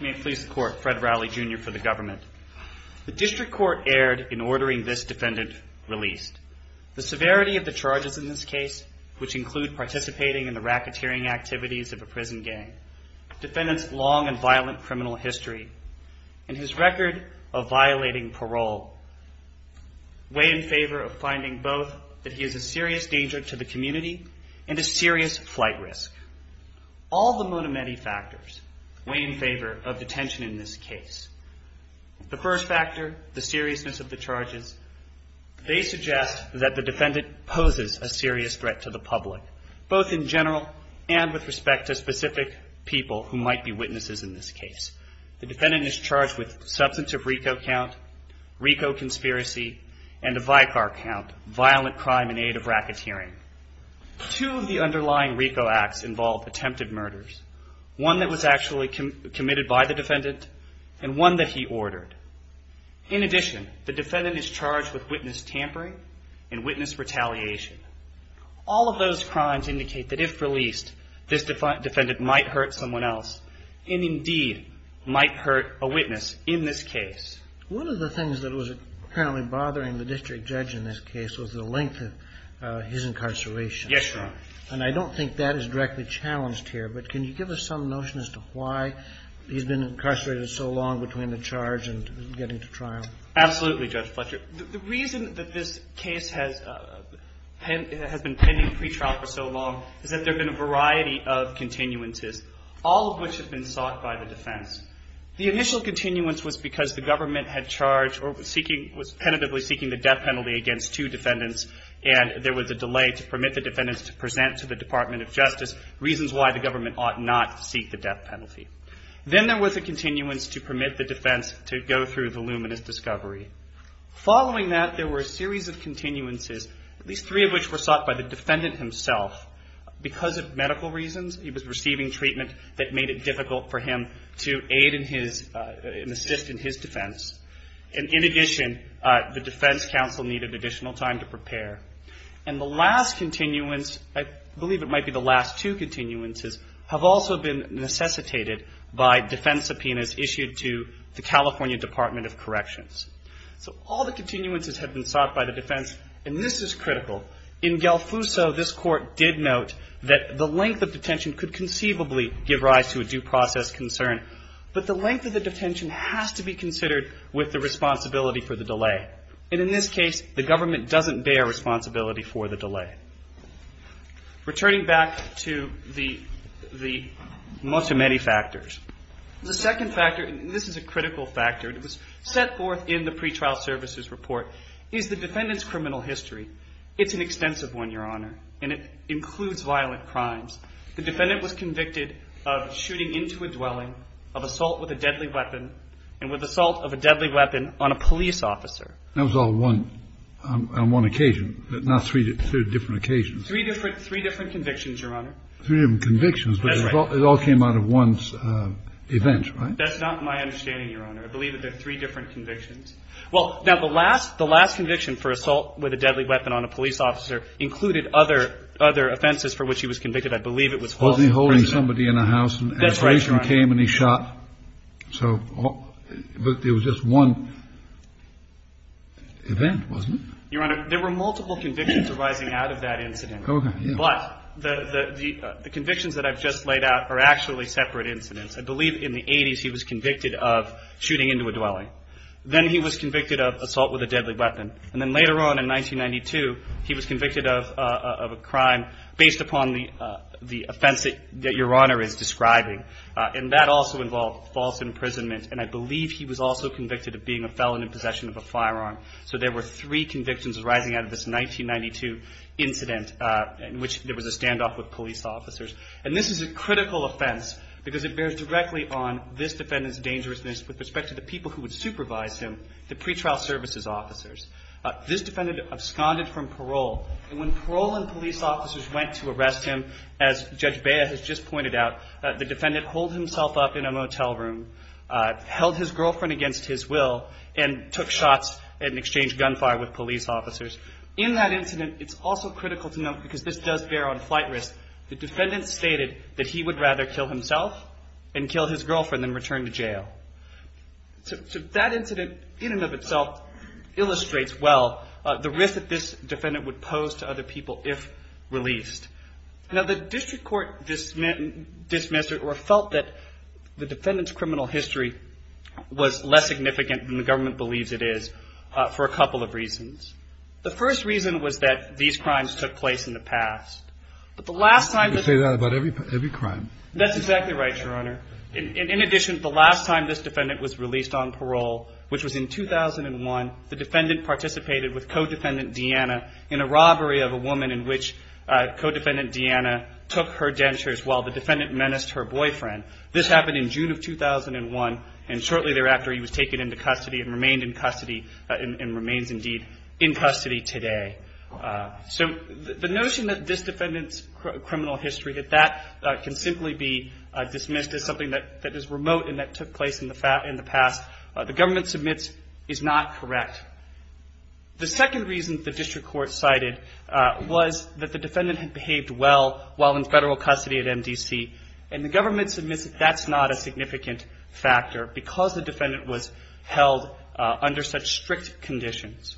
May it please the court, Fred Rowley, Jr. for the government. The district court erred in ordering this defendant released. The severity of the charges in this case, which include participating in the racketeering activities of a prison gang, defendant's long and violent criminal history, and his record of violating parole, weigh in favor of finding both that he is a serious danger to the community and a serious flight risk. All the monomany factors weigh in favor of the tension in this case. The first factor, the seriousness of the charges, they suggest that the defendant poses a serious threat to the public, both in general and with respect to specific people who might be witnesses in this case. The defendant is charged with substantive RICO count, RICO conspiracy, and a VICAR count, violent crime in aid of racketeering. Two of the underlying RICO acts involve attempted murders. One that was actually committed by the defendant and one that he ordered. In addition, the defendant is charged with witness tampering and witness retaliation. All of those crimes indicate that if released, this defendant might hurt someone else and indeed might hurt a witness in this case. One of the things that was apparently bothering the district judge in this case was the length of his incarceration. Yes, Your Honor. And I don't think that is directly challenged here, but can you give us some notion as to why he's been incarcerated so long between the charge and getting to trial? Absolutely, Judge Fletcher. The reason that this case has been pending pretrial for so long is that there have been a variety of continuances, all of which have been sought by the defense. The initial continuance was because the government had charged or was penitently seeking the death penalty against two defendants and there was a delay to permit the defendants to present to the Department of Justice reasons why the government ought not to seek the death penalty. Then there was a continuance to permit the defense to go through the luminous discovery. Following that, there were a series of continuances, at least three of which were sought by the defendant himself. Because of medical reasons, he was receiving treatment that made it difficult for him to aid in his and assist in his defense. And in addition, the defense counsel needed additional time to prepare. And the last continuance, I believe it might be the last two continuances, have also been necessitated by defense subpoenas issued to the California Department of Corrections. So all the continuances have been sought by the defense, and this is critical. In Gelfuso, this Court did note that the length of detention could conceivably give rise to a due process concern, but the length of the detention has to be considered with the responsibility for the delay. And in this case, the government doesn't bear responsibility for the delay. Returning back to the most or many factors, the second factor, and this is a critical factor, it was set forth in the pretrial services report, is the defendant's criminal history. It's an extensive one, Your Honor, and it includes violent crimes. The defendant was convicted of shooting into a dwelling, of assault with a deadly weapon, and with assault of a deadly weapon on a police officer. That was all on one occasion, not three different occasions. Three different convictions, Your Honor. Three different convictions, but it all came out of one's event, right? That's not my understanding, Your Honor. I believe that they're three different convictions. Well, now, the last conviction for assault with a deadly weapon on a police officer included other offenses for which he was convicted. I believe it was false imprisonment. Wasn't he holding somebody in a house and a policeman came and he shot? That's right, Your Honor. So it was just one event, wasn't it? Your Honor, there were multiple convictions arising out of that incident. Okay. But the convictions that I've just laid out are actually separate incidents. I believe in the 80s he was convicted of shooting into a dwelling. Then he was convicted of assault with a deadly weapon. And then later on in 1992, he was convicted of a crime based upon the offense that Your Honor is describing. And that also involved false imprisonment, and I believe he was also convicted of being a felon in possession of a firearm. So there were three convictions arising out of this 1992 incident in which there was a standoff with police officers. And this is a critical offense because it bears directly on this defendant's dangerousness with respect to the people who would supervise him, the pretrial services officers. This defendant absconded from parole. And when parole and police officers went to arrest him, as Judge Bea has just pointed out, the defendant holed himself up in a motel room, held his girlfriend against his will, and took shots and exchanged gunfire with police officers. In that incident, it's also critical to note, because this does bear on flight risk, the defendant stated that he would rather kill himself and kill his girlfriend than return to jail. So that incident in and of itself illustrates well the risk that this defendant would pose to other people if released. Now the district court dismissed or felt that the defendant's criminal history was less significant than the government believes it is for a couple of reasons. The first reason was that these crimes took place in the past. But the last time the ---- You say that about every crime. That's exactly right, Your Honor. In addition, the last time this defendant was released on parole, which was in 2001, the defendant participated with Codefendant Deanna in a robbery of a woman in which Codefendant Deanna took her dentures while the defendant menaced her boyfriend. This happened in June of 2001. And shortly thereafter, he was taken into custody and remained in custody and remains indeed in custody today. So the notion that this defendant's criminal history, that that can simply be dismissed as something that is remote and that took place in the past, the government submits is not correct. The second reason the district court cited was that the defendant had behaved well while in federal custody at MDC. And the government submits that that's not a significant factor because the defendant was held under such strict conditions.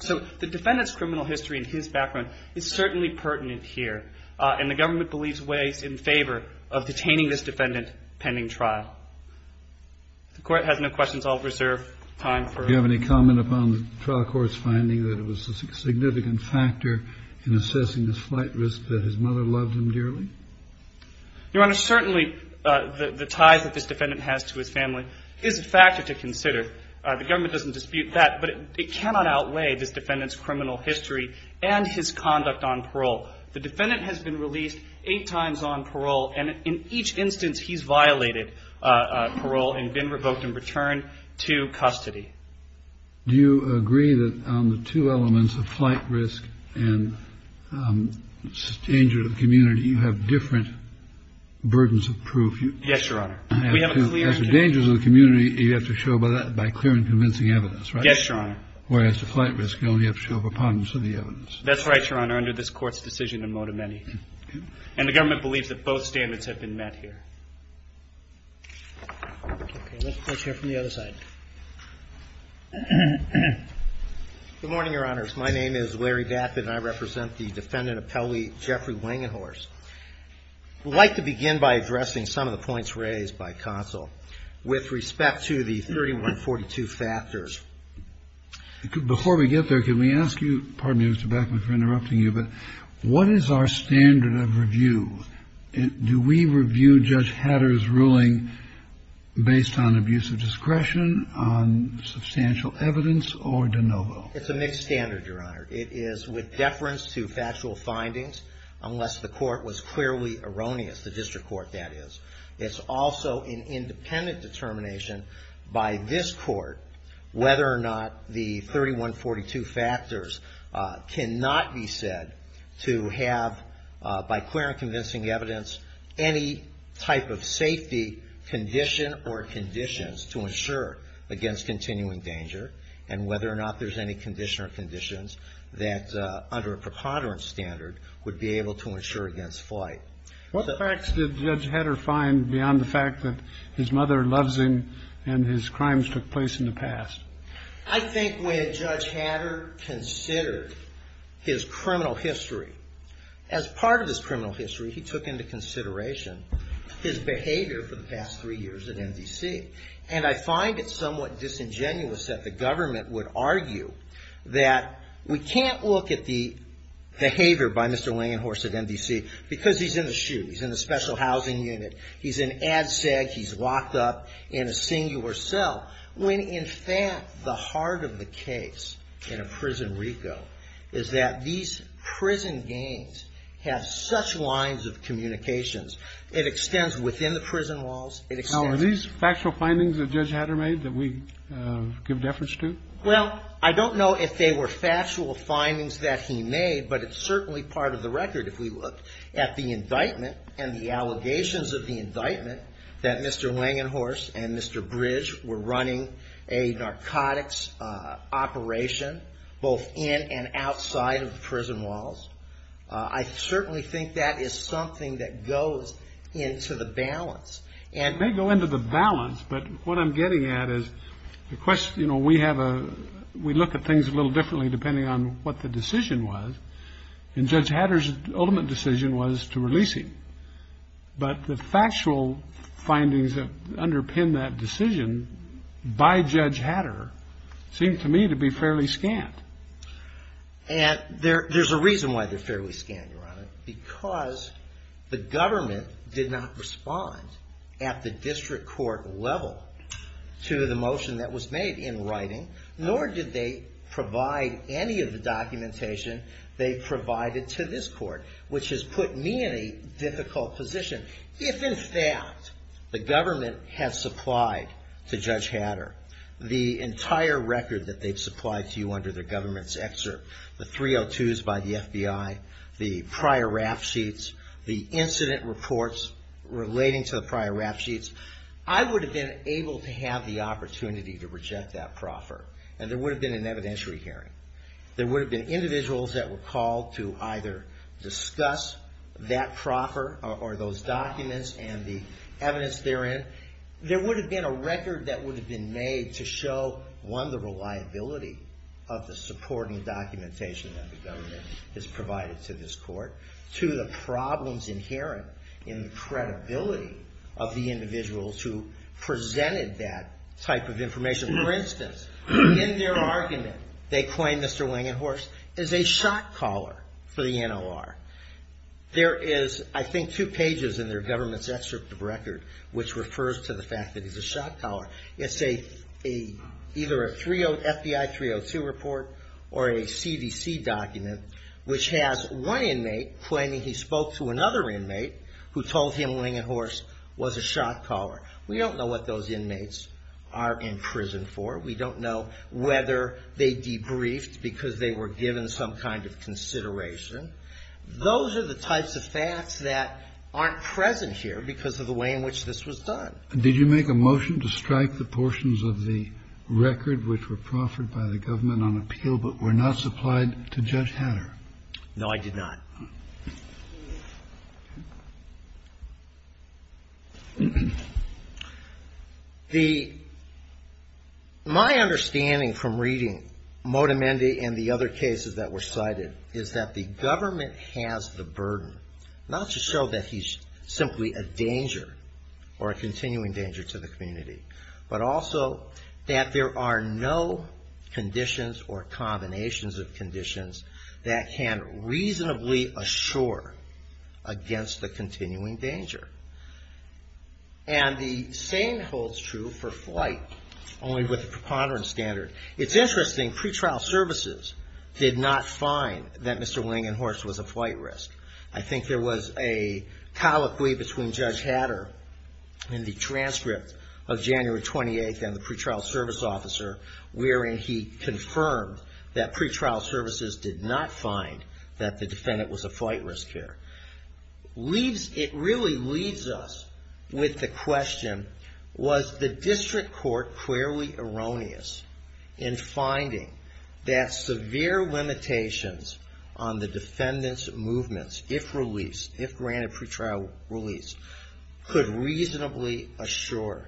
So the defendant's criminal history and his background is certainly pertinent here. And the government believes ways in favor of detaining this defendant pending trial. If the Court has no questions, I'll reserve time for ---- Do you have any comment upon the trial court's finding that it was a significant factor in assessing his flight risk that his mother loved him dearly? Your Honor, certainly the ties that this defendant has to his family is a factor to consider. The government doesn't dispute that. But it cannot outweigh this defendant's criminal history and his conduct on parole. The defendant has been released eight times on parole. And in each instance, he's violated parole and been revoked and returned to custody. Do you agree that on the two elements of flight risk and danger to the community, you have different burdens of proof? Yes, Your Honor. As for dangers of the community, you have to show by clear and convincing evidence, right? Yes, Your Honor. Whereas, the flight risk, you only have to show for ponderance of the evidence. That's right, Your Honor. Under this Court's decision, there are more than many. And the government believes that both standards have been met here. Okay. Let's hear from the other side. Good morning, Your Honors. My name is Larry Baffin, and I represent the defendant appellee Jeffrey Wangenhorst. I'd like to begin by addressing some of the points raised by counsel with respect to the 3142 factors. Before we get there, can we ask you, pardon me, Mr. Baffin, for interrupting you, but what is our standard of review? Do we review Judge Hatter's ruling based on abuse of discretion, on substantial evidence, or de novo? It's a mixed standard, Your Honor. It is with deference to factual findings, unless the court was clearly erroneous, the district court, that is. It's also an independent determination by this Court whether or not the 3142 factors cannot be said to have, by clear and convincing evidence, any type of safety condition or conditions to ensure against continuing danger, and whether or not there's any condition or conditions that, under a preponderance standard, would be able to ensure against flight. What facts did Judge Hatter find beyond the fact that his mother loves him and his crimes took place in the past? I think when Judge Hatter considered his criminal history, as part of his criminal history, he took into consideration his behavior for the past three years at MDC. And I find it somewhat disingenuous that the government would argue that we can't look at the behavior by Mr. Langenhorst at MDC because he's in the chute. He's in the special housing unit. He's in ADSEG. He's locked up in a singular cell, when, in fact, the heart of the case in a prison RICO is that these prison games have such lines of communications. It extends within the prison walls. Now, are these factual findings that Judge Hatter made that we give deference to? Well, I don't know if they were factual findings that he made, but it's certainly part of the record, if we look at the indictment and the allegations of the indictment that Mr. Langenhorst and Mr. Bridge were running a narcotics operation both in and outside of the prison walls. I certainly think that is something that goes into the balance. It may go into the balance, but what I'm getting at is we look at things a little differently depending on what the decision was, and Judge Hatter's ultimate decision was to release him. But the factual findings that underpin that decision by Judge Hatter seem to me to be fairly scant. And there's a reason why they're fairly scant, Your Honor, because the government did not respond at the district court level to the motion that was made in writing, nor did they provide any of the documentation they provided to this court, which has put me in a difficult position. If, in fact, the government had supplied to Judge Hatter the entire record that they've supplied to you under their government's excerpt, the 302s by the FBI, the prior rap sheets, the incident reports relating to the prior rap sheets, I would have been able to have the opportunity to reject that proffer, and there would have been an evidentiary hearing. There would have been individuals that were called to either discuss that proffer or those documents and the evidence therein. There would have been a record that would have been made to show, one, the reliability of the supporting documentation that the government has provided to this court, two, the problems inherent in the credibility of the individuals who presented that type of information. For instance, in their argument, they claim Mr. Wangenhorst is a shot caller for the NLR. There is, I think, two pages in their government's excerpt of record which refers to the fact that he's a shot caller. It's either a FBI 302 report or a CDC document, which has one inmate claiming he spoke to another inmate who told him Wangenhorst was a shot caller. We don't know what those inmates are in prison for. We don't know whether they debriefed because they were given some kind of consideration. Those are the types of facts that aren't present here because of the way in which this was done. Kennedy. Did you make a motion to strike the portions of the record which were proffered by the government on appeal but were not supplied to Judge Hatterr? No, I did not. My understanding from reading Motamendi and the other cases that were cited is that the government has the burden, not to show that he's simply a danger or a continuing danger to the community, but also that there are no conditions or combinations of conditions that can reasonably assure against the continuing danger. And the same holds true for flight, only with a preponderance standard. It's interesting, pretrial services did not find that Mr. Wangenhorst was a flight risk. I think there was a colloquy between Judge Hatterr in the transcript of January 28th and the pretrial service officer, wherein he confirmed that pretrial services did not find that the defendant was a flight risk here. It really leaves us with the question, was the district court clearly erroneous in finding that severe limitations on the defendant's movements, if released, if granted pretrial release, could reasonably assure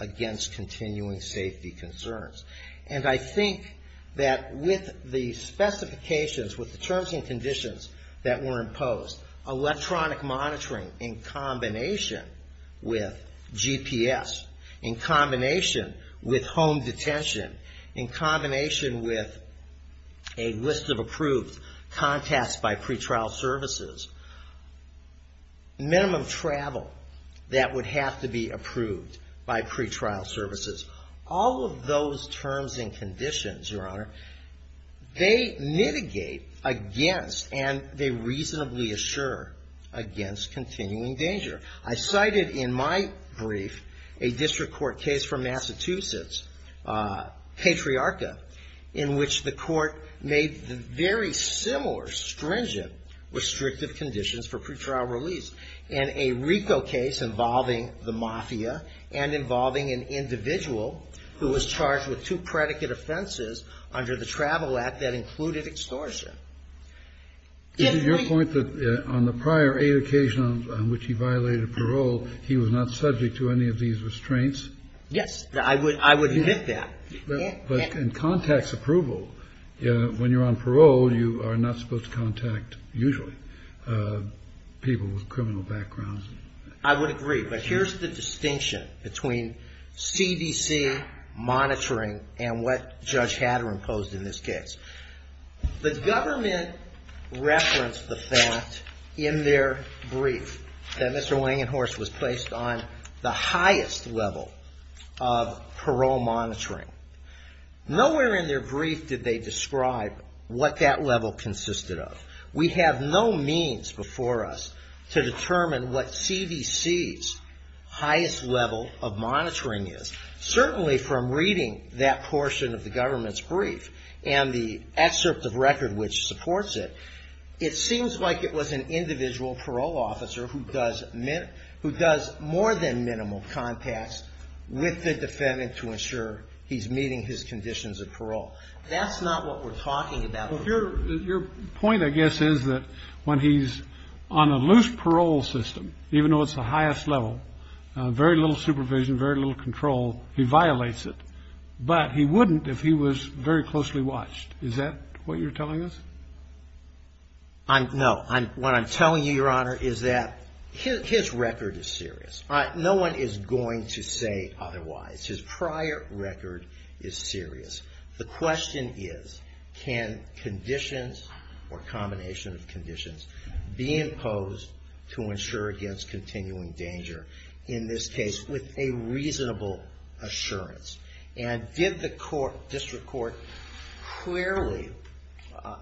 against continuing safety concerns? And I think that with the specifications, with the terms and conditions that were imposed, electronic monitoring in combination with GPS, in combination with home detention, in combination with a list of approved contacts by pretrial services, minimum travel that would have to be approved by pretrial services, all of those terms and conditions, Your Honor, they mitigate against and they reasonably assure against continuing danger. I cited in my brief a district court case from Massachusetts, Patriarca, in which the court made very similar stringent restrictive conditions for pretrial release. And a RICO case involving the Mafia and involving an individual who was charged with two predicate offenses under the Travel Act that included extortion. Kennedy. Is it your point that on the prior eight occasions on which he violated parole, he was not subject to any of these restraints? Yes. I would admit that. But in contacts approval, when you're on parole, you are not supposed to contact usually people with criminal backgrounds. I would agree. But here's the distinction between CDC monitoring and what Judge Hatter imposed in this case. The government referenced the fact in their brief that Mr. Wangenhorst was placed on the highest level of parole monitoring. Nowhere in their brief did they describe what that level consisted of. We have no means before us to determine what CDC's highest level of monitoring is. Certainly from reading that portion of the government's brief and the excerpt of record which supports it, it seems like it was an individual parole officer who does more than minimal contacts with the defendant to ensure he's meeting his conditions of parole. That's not what we're talking about. Your point, I guess, is that when he's on a loose parole system, even though it's the highest level, very little supervision, very little control, he violates it. But he wouldn't if he was very closely watched. Is that what you're telling us? No. What I'm telling you, Your Honor, is that his record is serious. No one is going to say otherwise. His prior record is serious. The question is, can conditions or combination of conditions be imposed to ensure against continuing danger in this case with a reasonable assurance? And did the district court clearly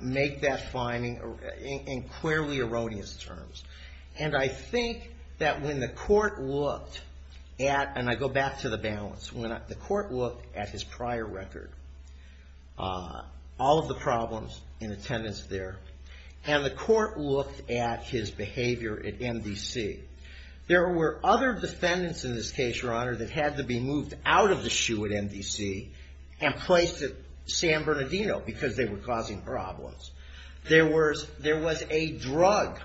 make that finding in clearly erroneous terms? And I think that when the court looked at, and I go back to the balance, when the court looked at his prior record, all of the problems in attendance there, and the court looked at his behavior at MDC, there were other defendants in this case, Your Honor, that had to be moved out of the SHU at MDC and placed at San Bernardino because they were causing problems. There was a drug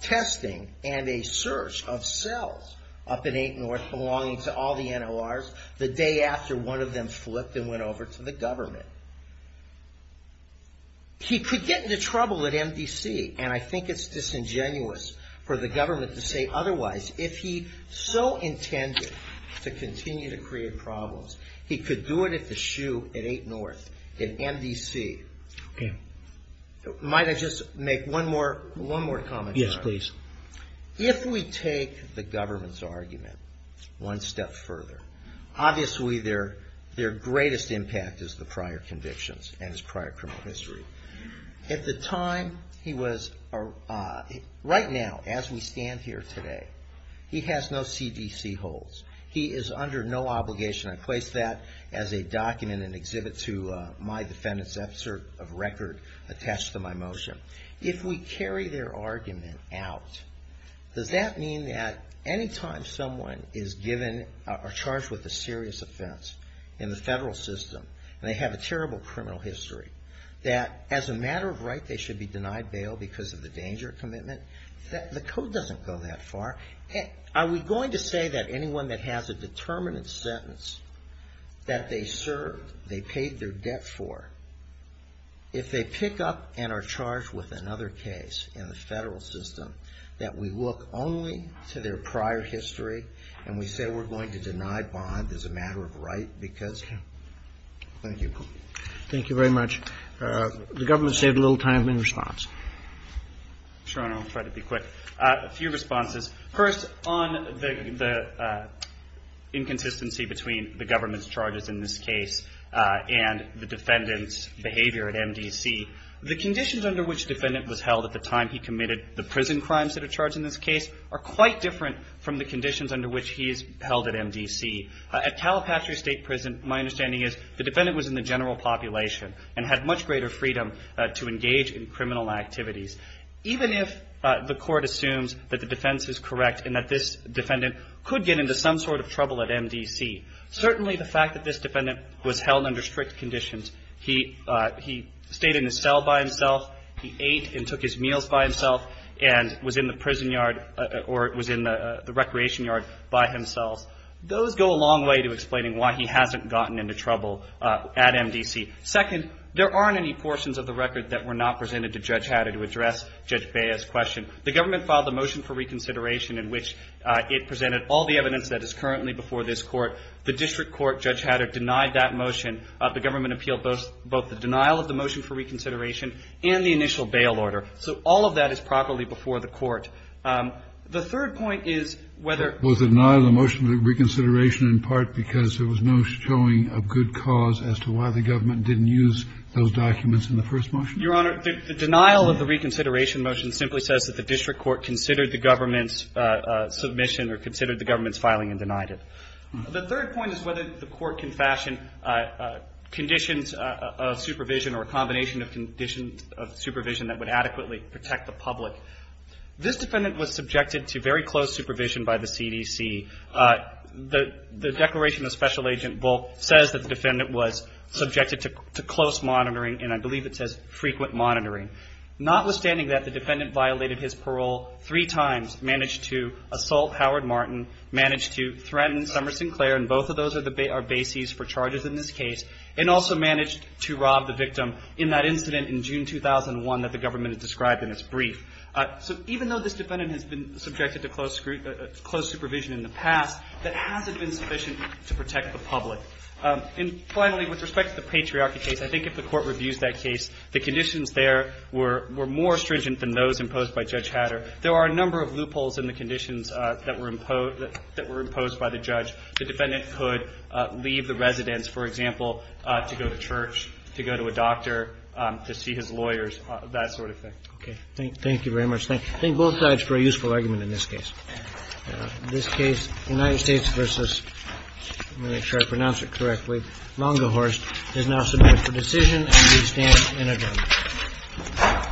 testing and a search of cells up in Eight North belonging to all the NORs the day after one of them flipped and went over to the government. He could get into trouble at MDC, and I think it's disingenuous for the government to say otherwise. If he so intended to continue to create problems, he could do it at the SHU at Eight North, at MDC. Okay. Might I just make one more comment, Your Honor? Yes, please. If we take the government's argument one step further, obviously their greatest impact is the prior convictions and his prior criminal history. At the time he was, right now, as we stand here today, he has no CDC holds. He is under no obligation. I place that as a document, an exhibit to my defendant's record attached to my motion. If we carry their argument out, does that mean that anytime someone is given or charged with a serious offense in the federal system, and they have a terrible criminal history, that as a matter of right they should be denied bail because of the danger commitment, the code doesn't go that far. Are we going to say that anyone that has a determinate sentence that they served, they paid their debt for, if they pick up and are charged with another case in the federal system, that we look only to their prior history, and we say we're going to deny bond as a matter of right? Thank you. Thank you very much. The government saved a little time in response. Sure, and I'll try to be quick. A few responses. First, on the inconsistency between the government's charges in this case and the defendant's behavior at MDC, the conditions under which the defendant was held by the general population and had much greater freedom to engage in criminal activities. Even if the court assumes that the defense is correct and that this defendant could get into some sort of trouble at MDC, certainly the fact that this defendant was held under strict conditions, he stayed in his cell by himself, he ate and took his meals by himself, and was in the prison yard or was in the recreation yard by himself, those go a long way to explaining why he hasn't gotten into trouble at MDC. Second, there aren't any portions of the record that were not presented to Judge Hatter to address Judge Bea's question. The government filed the motion for reconsideration in which it presented all the evidence that is currently before this Court. The district court, Judge Hatter, denied that motion. The government appealed both the denial of the motion for reconsideration and the initial bail order. So all of that is properly before the Court. The third point is whether ---- Your Honor, the denial of the reconsideration motion simply says that the district court considered the government's submission or considered the government's filing and denied it. The third point is whether the court can fashion conditions of supervision or a combination of conditions of supervision that would adequately protect the public. This defendant was subjected to very close supervision by the CDC. The declaration of Special Agent Bulk says that the defendant was subjected to close monitoring and I believe it says frequent monitoring. Notwithstanding that, the defendant violated his parole three times, managed to assault Howard Martin, managed to threaten Summer Sinclair, and both of those are bases for charges in this case, and also managed to rob the victim in that incident in June 2001 that the government has described in its brief. So even though this defendant has been subjected to close supervision in the past, that hasn't been sufficient to protect the public. And finally, with respect to the patriarchy case, I think if the Court reviews that case, the conditions there were more stringent than those imposed by Judge Hatter. There are a number of loopholes in the conditions that were imposed by the judge. The defendant could leave the residence, for example, to go to church, to go to a doctor, to see his lawyers, that sort of thing. And the court has not reviewed the conditions that were imposed by Judge Hatter. And the court has not reviewed the conditions that were imposed by Judge Hatter. Thank you. Thank you very much. Thank you. Thank both sides for a useful argument in this case. In this case, the United States versus, let me make sure I pronounce it correctly, Longahorse is now submitted for decision and we stand in adjournment. Thank you. Thank you.